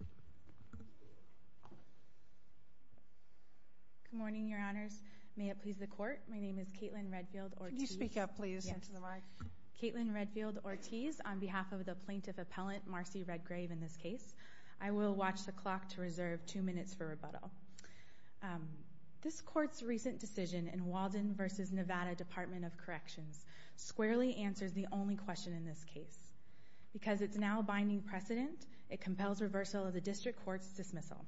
Good morning, Your Honors. May it please the Court, my name is Caitlin Redfield-Ortiz. Can you speak up, please, into the mic? Yes. Caitlin Redfield-Ortiz, on behalf of the Plaintiff Appellant Marcie Redgrave in this case, I will watch the clock to reserve two minutes for rebuttal. This Court's recent decision in Walden v. Nevada Department of Corrections squarely answers the only question in this case. Because it's now a binding precedent, it compels reversal of the District Court's dismissal.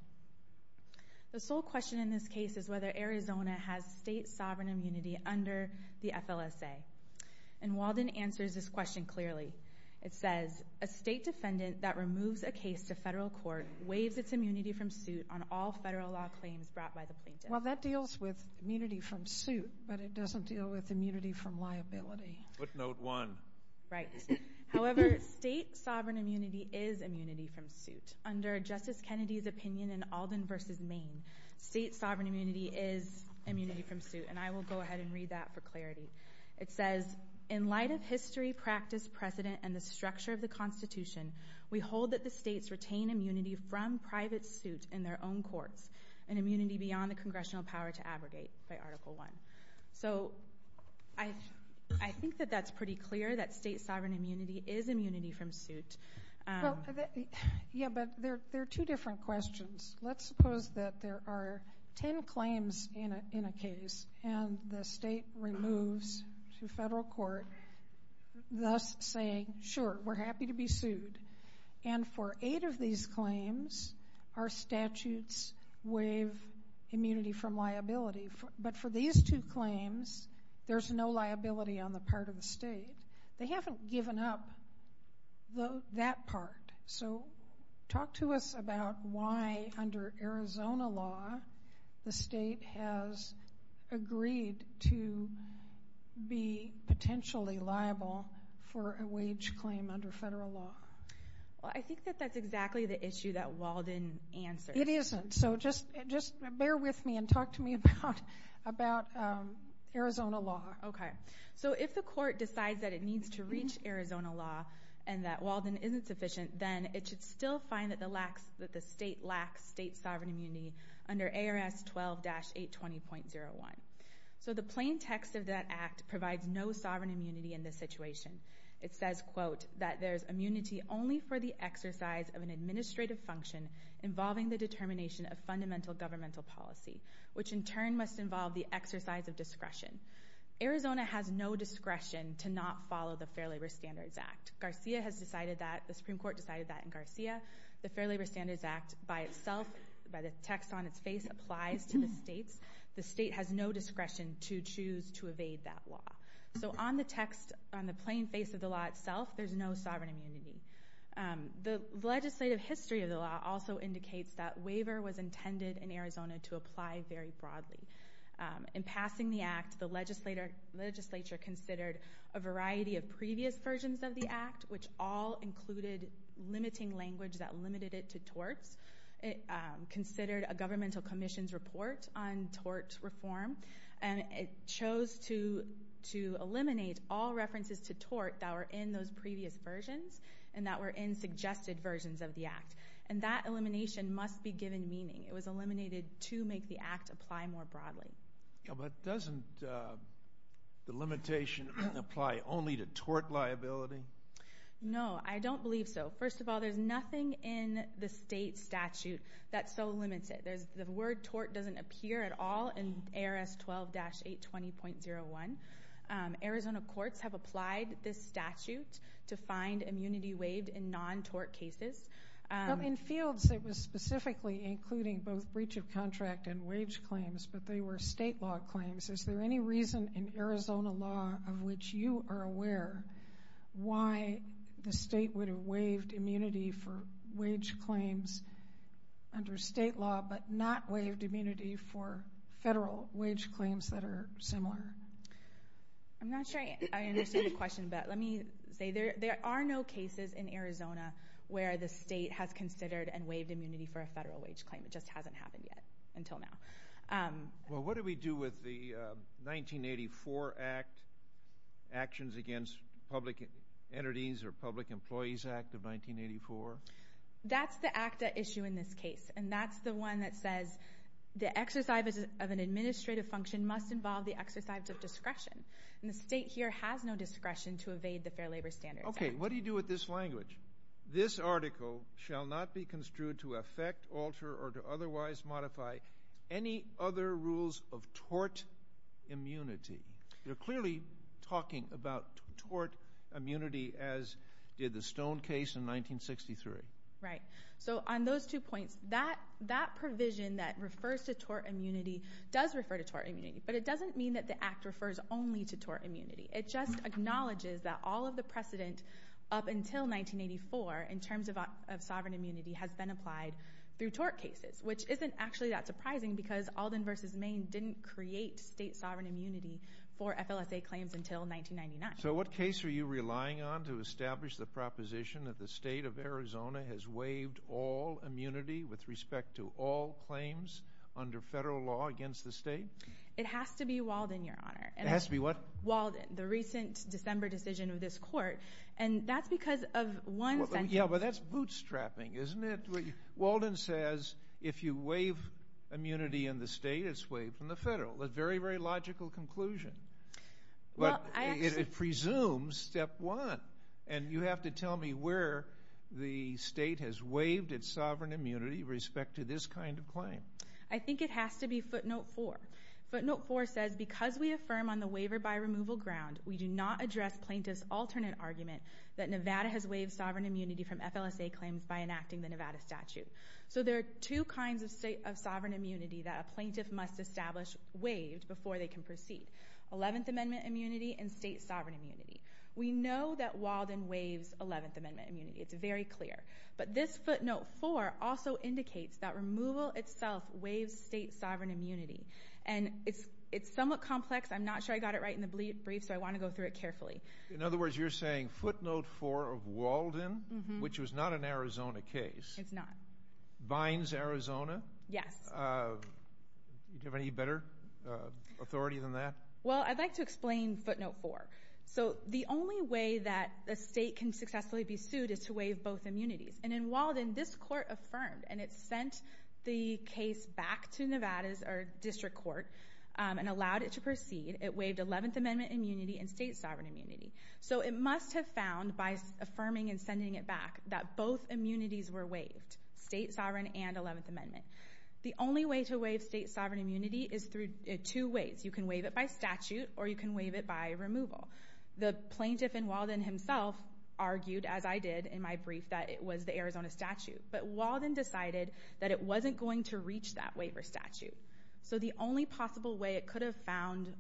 The sole question in this case is whether Arizona has state sovereign immunity under the FLSA. And Walden answers this question clearly. It says, a state defendant that removes a case to federal court waives its immunity from suit on all federal law claims brought by the Plaintiff. Well, that deals with immunity from suit, but it doesn't deal with immunity from liability. Footnote 1. Right. However, state sovereign immunity is immunity from suit. Under Justice Kennedy's opinion in Alden v. Maine, state sovereign immunity is immunity from suit. And I will go ahead and read that for clarity. It says, in light of history, practice, precedent, and the structure of the Constitution, we hold that the states retain immunity from private suit in their own courts, an immunity beyond the Congressional power to abrogate, by Article 1. So, I think that that's pretty clear, that state sovereign immunity is immunity from suit. Yeah, but they're two different questions. Let's suppose that there are ten claims in a case, and the state removes to federal court, thus saying, sure, we're happy to be sued. And for eight of these claims, our statutes waive immunity from liability. But for these two claims, there's no liability on the part of the state. They haven't given up that part. So, talk to us about why, under Arizona law, the state has agreed to be potentially liable for a wage claim under federal law. Well, I think that that's exactly the issue that Walden answered. It isn't. So, just bear with me and talk to me about Arizona law. Okay. So, if the court decides that it needs to reach Arizona law, and that Walden isn't sufficient, then it should still find that the state lacks state sovereign immunity under ARS 12-820.01. So the plain text of that act provides no sovereign immunity in this situation. It says, that there's immunity only for the exercise of an administrative function involving the determination of fundamental governmental policy, which in turn must involve the exercise of discretion. Arizona has no discretion to not follow the Fair Labor Standards Act. Garcia has decided that, the Supreme Court decided that in Garcia. The Fair Labor Standards Act by itself, by the text on its face, applies to the states. The state has no discretion to choose to evade that law. So, on the text, on the plain face of the law itself, there's no sovereign immunity. The legislative history of the law also indicates that waiver was intended in Arizona to apply very broadly. In passing the act, the legislature considered a variety of previous versions of the act, which all included limiting language that it chose to eliminate all references to tort that were in those previous versions and that were in suggested versions of the act. And that elimination must be given meaning. It was eliminated to make the act apply more broadly. But doesn't the limitation apply only to tort liability? No, I don't believe so. First of all, there's nothing in the state statute that's so limited. The word tort doesn't appear at all in ARS 12-820.01. Arizona courts have applied this statute to find immunity waived in non-tort cases. In fields that was specifically including both breach of contract and wage claims, but they were state law claims, is there any reason in Arizona law of which you are aware why the state would have waived immunity for wage claims under state law, but not waived immunity for federal wage claims that are similar? I'm not sure I understand your question, but let me say there are no cases in Arizona where the state has considered and waived immunity for a federal wage claim. It just hasn't happened yet until now. Well, what do we do with the 1984 Act, Actions Against Public Entities or Public Employees Act of 1984? That's the ACTA issue in this case, and that's the one that says the exercise of an administrative function must involve the exercise of discretion. And the state here has no discretion to evade the Fair Labor Standards Act. Okay, what do you do with this language? This article shall not be construed to affect, alter, or to otherwise modify any other rules of tort immunity. You're clearly talking about tort immunity as did the Stone case in 1963. Right. So on those two points, that provision that refers to tort immunity does refer to tort immunity, but it doesn't mean that the Act refers only to tort immunity. It just states that in 1984, in terms of sovereign immunity, has been applied through tort cases, which isn't actually that surprising because Alden v. Maine didn't create state sovereign immunity for FLSA claims until 1999. So what case are you relying on to establish the proposition that the state of Arizona has waived all immunity with respect to all claims under federal law against the state? It has to be Walden, Your Honor. It has to be what? Walden, the recent December decision of this court. And that's because of one sentence. Yeah, but that's bootstrapping, isn't it? Walden says if you waive immunity in the state, it's waived from the federal. A very, very logical conclusion. But it presumes step one. And you have to tell me where the state has waived its sovereign immunity with respect to this kind of claim. I think it has to be footnote four. Footnote four says because we affirm on the waiver by removal ground, we do not address plaintiff's alternate argument that Nevada has waived sovereign immunity from FLSA claims by enacting the Nevada statute. So there are two kinds of sovereign immunity that a plaintiff must establish waived before they can proceed. Eleventh Amendment immunity and state sovereign immunity. We know that Walden waives Eleventh Amendment immunity. It's very clear. But this footnote four also itself waives state sovereign immunity. And it's somewhat complex. I'm not sure I got it right in the brief, so I want to go through it carefully. In other words, you're saying footnote four of Walden, which was not an Arizona case. It's not. Binds Arizona? Yes. Do you have any better authority than that? Well, I'd like to explain footnote four. So the only way that a state can successfully be sued is to waive both immunities. And in Walden, this court affirmed, and it sent the case back to Nevada's district court and allowed it to proceed. It waived Eleventh Amendment immunity and state sovereign immunity. So it must have found by affirming and sending it back that both immunities were waived, state sovereign and Eleventh Amendment. The only way to waive state sovereign immunity is through two ways. You can waive it by statute or you can waive it by removal. The plaintiff in Walden himself argued, as I did in my brief, that it was the Arizona statute. But Walden decided that it wasn't going to reach that waiver statute. So the only possible way it could have found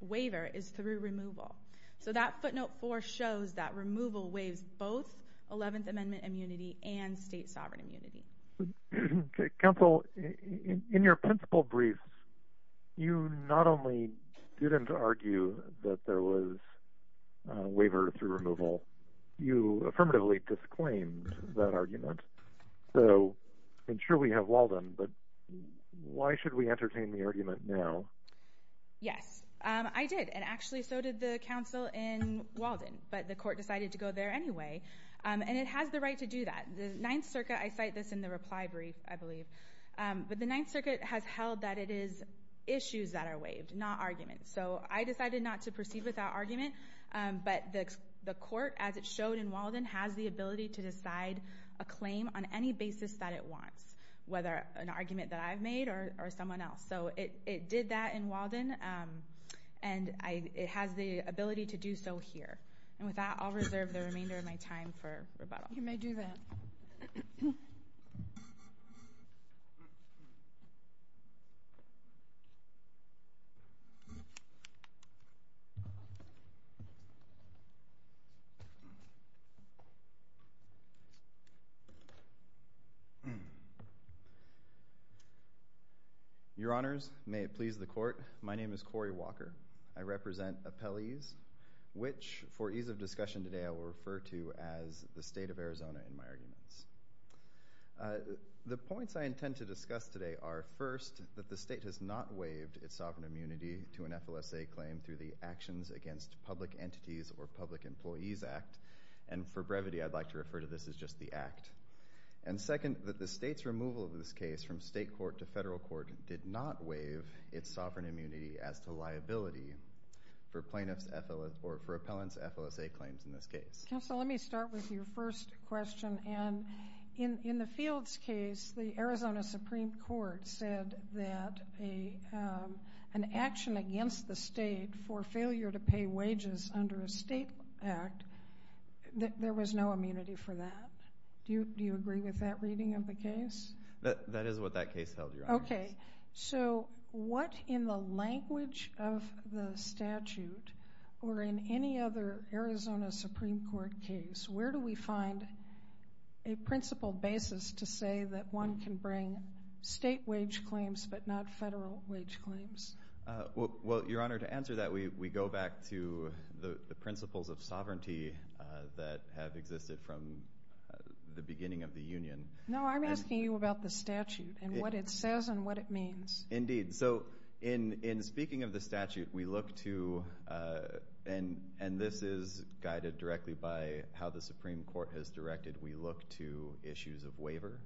waiver is through removal. So that footnote four shows that removal waives both Eleventh Amendment immunity and state sovereign immunity. Counsel, in your principal brief, you not only didn't argue that there was a waiver through removal, you affirmatively disclaimed that argument. So I'm sure we have Walden, but why should we entertain the argument now? Yes, I did. And actually, so did the counsel in Walden, but the court decided to go there anyway. And it has the right to do that. The Ninth Circuit, I cite this in the reply brief, I believe, but the Ninth Circuit has held that it is issues that are waived, not arguments. So I decided not to proceed with that argument, but the court, as it showed in Walden, has the ability to decide a claim on any basis that it wants, whether an argument that I've made or someone else. So it did that in Walden, and it has the ability to do so here. And with that, I'll reserve the remainder of my time for rebuttal. You may do that. Your Honors, may it please the Court, my name is Corey Walker. I represent appellees which for ease of discussion today I will refer to as the State of Arizona in my arguments. The points I intend to discuss today are, first, that the state has not waived its sovereign immunity to an FLSA claim through the Actions Against Public Entities or Public Employees Act. And for brevity, I'd like to refer to this as just the Act. And second, that the state's removal of this case from state court to federal court did not waive its sovereign in this case. Counsel, let me start with your first question. And in the Fields case, the Arizona Supreme Court said that an action against the state for failure to pay wages under a state act, there was no immunity for that. Do you agree with that reading of the case? Okay. So what in the language of the statute or in any other Arizona Supreme Court case, where do we find a principle basis to say that one can bring state wage claims but not federal wage claims? Well, Your Honor, to answer that, we go back to the principles of sovereignty that have existed from the beginning of the Union. No, I'm asking you about the statute and what it says and what it means. Indeed. So in speaking of the statute, we look to, and this is guided directly by how the Supreme Court has directed, we look to issues of waiver.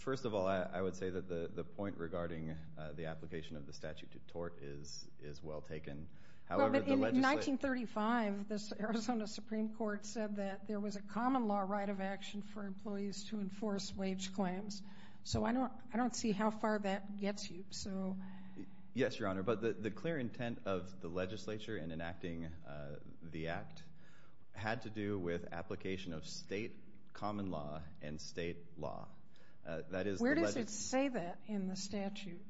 First of all, I would say that the point regarding the application of the statute to tort is well taken. In 1935, the Arizona Supreme Court said that there was a common law right of action for employees to enforce wage claims. So I don't see how far that gets you. Yes, Your Honor. But the clear intent of the legislature in enacting the act had to do with application of state common law and state law. Where does it say that in the statute?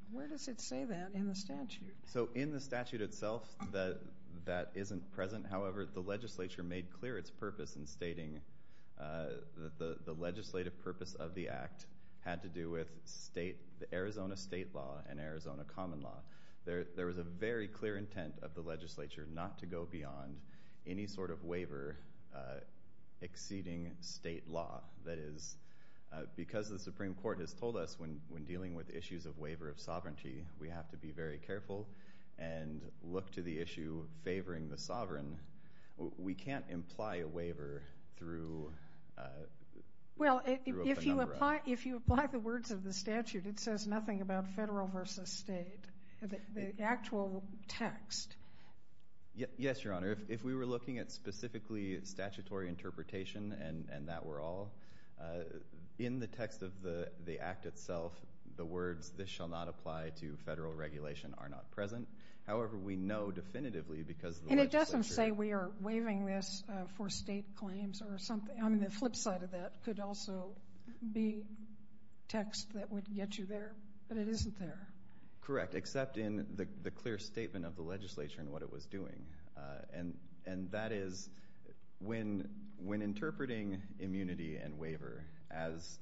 So in the statute itself, that isn't present. However, the legislature made clear its purpose in stating that the legislative purpose of the act had to do with Arizona state law and Arizona common law. There was a very clear intent of the legislature not to go beyond any sort of waiver exceeding state law. That is, because the Supreme Court has told us when dealing with issues of waiver of sovereignty, we have to be very careful and look to the issue of favoring the sovereign. We can't imply a waiver through a number of... Well, if you apply the words of the statute, it says nothing about federal versus state. The actual text... Yes, Your Honor. If we were looking at specifically statutory interpretation and that were all, in the text of the act itself, the words, this shall not apply to federal regulation, are not present. However, we know definitively because the legislature... And it doesn't say we are waiving this for state claims or something. I mean, the flip side of that could also be text that would get you there, but it isn't there. Correct, except in the clear statement of the legislature and what it was doing. And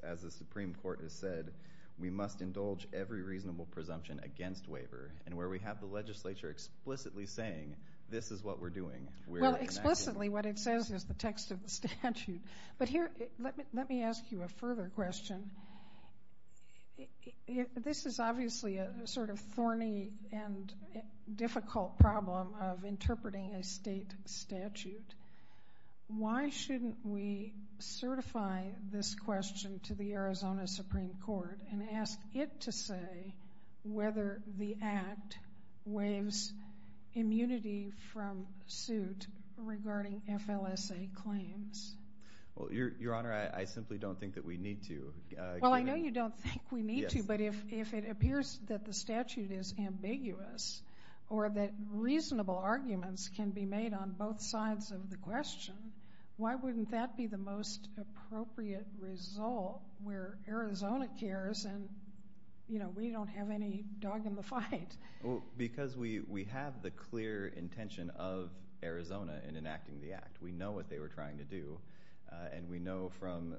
as the Supreme Court has said, we must indulge every reasonable presumption against waiver. And where we have the legislature explicitly saying, this is what we're doing. Well, explicitly what it says is the text of the statute. But here, let me ask you a further question. This is obviously a sort of thorny and difficult problem of interpreting a state statute. Why shouldn't we certify this question to the Arizona Supreme Court and ask it to say whether the act waives immunity from suit regarding FLSA claims? Well, Your Honor, I simply don't think that we need to. Well, I know you don't think we need to, but if it appears that the statute is ambiguous or that reasonable arguments can be made on both sides of the question, why wouldn't that be the most appropriate result where Arizona cares and we don't have any dog in the fight? Because we have the clear intention of Arizona in enacting the act. We know what they were trying to do, and we know from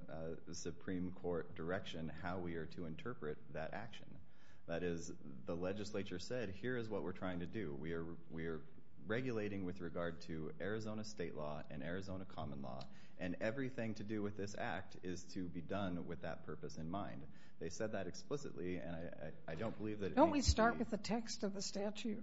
the Supreme Court direction how we are to interpret that we are regulating with regard to Arizona state law and Arizona common law. And everything to do with this act is to be done with that purpose in mind. They said that explicitly, and I don't believe that it means that we... Don't we start with the text of the statute?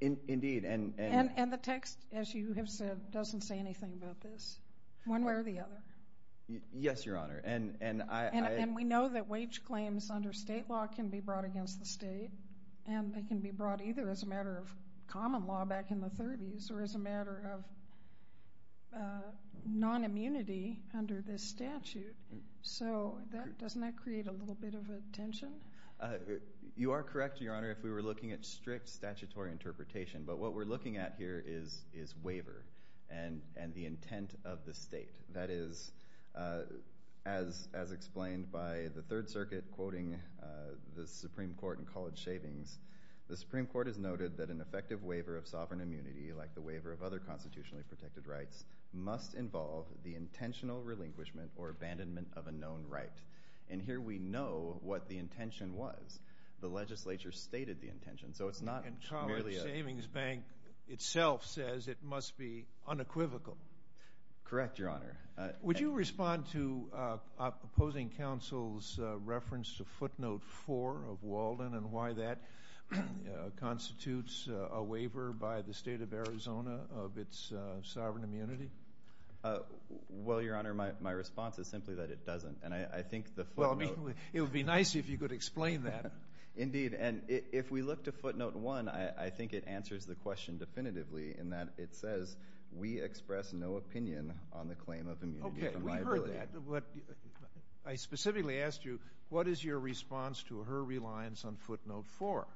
Indeed, and... And the text, as you have said, doesn't say anything about this, one way or the other. Yes, Your Honor, and I... And we know that wage claims under state law can be brought against the state, and they can be brought either as a matter of common law back in the 30s or as a matter of non-immunity under this statute. So doesn't that create a little bit of a tension? You are correct, Your Honor, if we were looking at strict statutory interpretation. But what we're looking at here is waiver and the intent of the state. That is, as explained by the Third Circuit quoting the Supreme Court in College Savings, the Supreme Court has noted that an effective waiver of sovereign immunity, like the waiver of other constitutionally protected rights, must involve the intentional relinquishment or abandonment of a known right. And here we know what the intention was. The legislature stated the intention, so it's not... And College Savings Bank itself says it must be unequivocal. Correct, Your Honor. Would you respond to opposing counsel's reference to footnote four of Walden and why that constitutes a waiver by the state of Arizona of its sovereign immunity? Well, Your Honor, my response is simply that it doesn't, and I think the footnote... Well, it would be nice if you could explain that. Indeed, and if we look to footnote one, I think it answers the question definitively in that it says, we express no opinion on the claim of immunity from liability. Okay, we heard that. I specifically asked you, what is your response to her reliance on footnote four?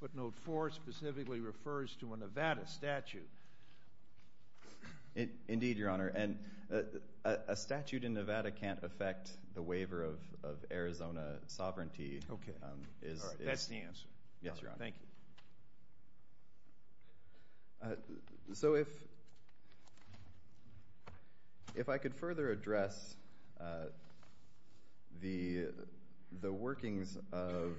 Footnote four specifically refers to a Nevada statute. Indeed, Your Honor, and a statute in Nevada can't affect the waiver of Arizona sovereignty. Okay, that's the answer. Yes, Your Honor. Thank you. So, if I could further address the workings of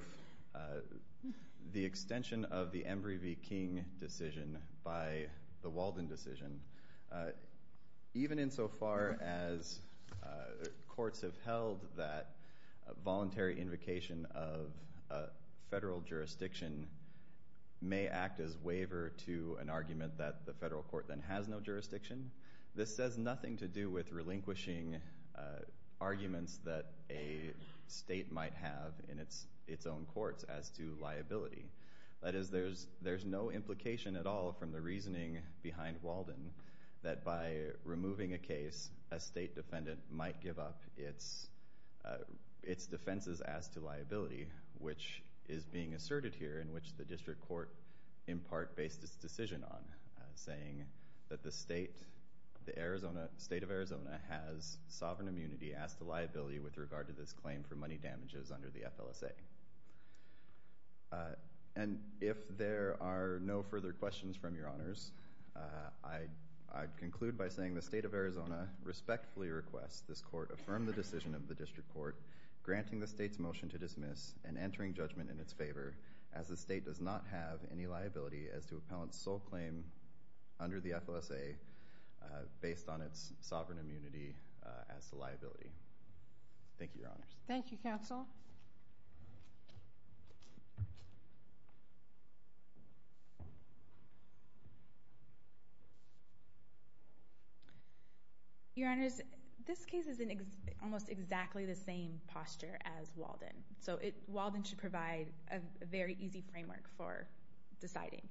the extension of the Embry v. King decision by the Walden decision, even insofar as courts have held that a voluntary invocation of a may act as waiver to an argument that the federal court then has no jurisdiction, this says nothing to do with relinquishing arguments that a state might have in its own courts as to liability. That is, there's no implication at all from the reasoning behind Walden that by removing a case, a state defendant might give up its defenses as to liability, which is being asserted here in which the district court, in part, based its decision on, saying that the state of Arizona has sovereign immunity as to liability with regard to this claim for money damages under the FLSA. And if there are no further questions from Your Honors, I'd conclude by saying the state of Arizona respectfully requests this court affirm the decision of the district court, granting the state's motion to dismiss, and entering judgment in its favor as the state does not have any liability as to appellant's sole claim under the FLSA based on its sovereign immunity as to liability. Thank you, Your Honors. Thank you, Counsel. Your Honors, this case is in almost exactly the same posture as Walden, so Walden should provide a very easy framework for deciding.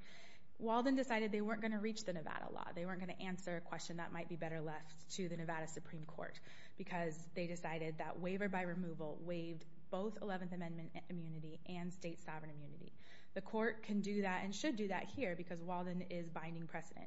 Walden decided they weren't going to reach the Nevada law. They weren't going to answer a question that might be better left to the Nevada Supreme Court because they decided that waiver by removal waived both 11th Amendment immunity and state sovereign immunity. The court can do that and should do that here because Walden is binding precedent.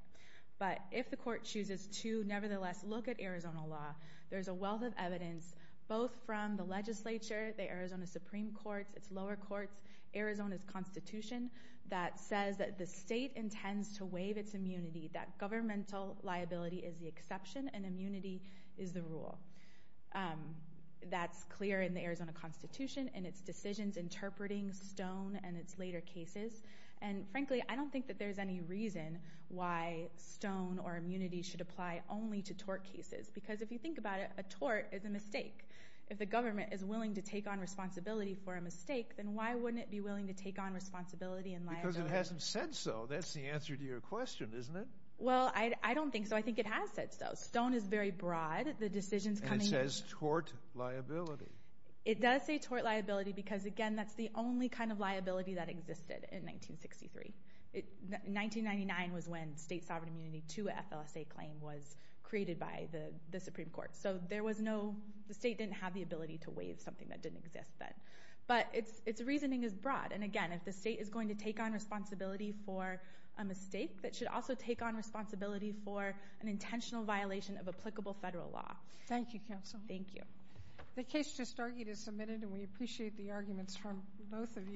But if the court chooses to nevertheless look at Arizona law, there's a wealth of evidence both from the legislature, the Arizona Supreme Court, its lower courts, Arizona's constitution that says that the state intends to waive its immunity, that governmental liability is the exception and immunity is the rule. That's clear in the Arizona constitution and its decisions interpreting Stone and its later cases, and frankly, I don't think that there's any reason why Stone or immunity should apply only to tort cases because if you think about it, a tort is a mistake. If the government is willing to take on responsibility for a mistake, then why wouldn't it be willing to take on responsibility and liability? Because it hasn't said so. That's the answer to your question, isn't it? Well, I don't think so. I think it has said so. Stone is very broad. The decisions coming... And it says tort liability. It does say tort liability because, again, that's the only kind of liability that existed in 1963. 1999 was when state sovereign immunity to FLSA claim was created by the Supreme Court. So there was no... The state didn't have the ability to waive something that didn't exist then. But its reasoning is broad. And again, if the state is going to take on responsibility for a mistake, it should also take on responsibility for an intentional violation of applicable federal law. Thank you, Counsel. Thank you. The case just argued is submitted and we appreciate the arguments from both of you.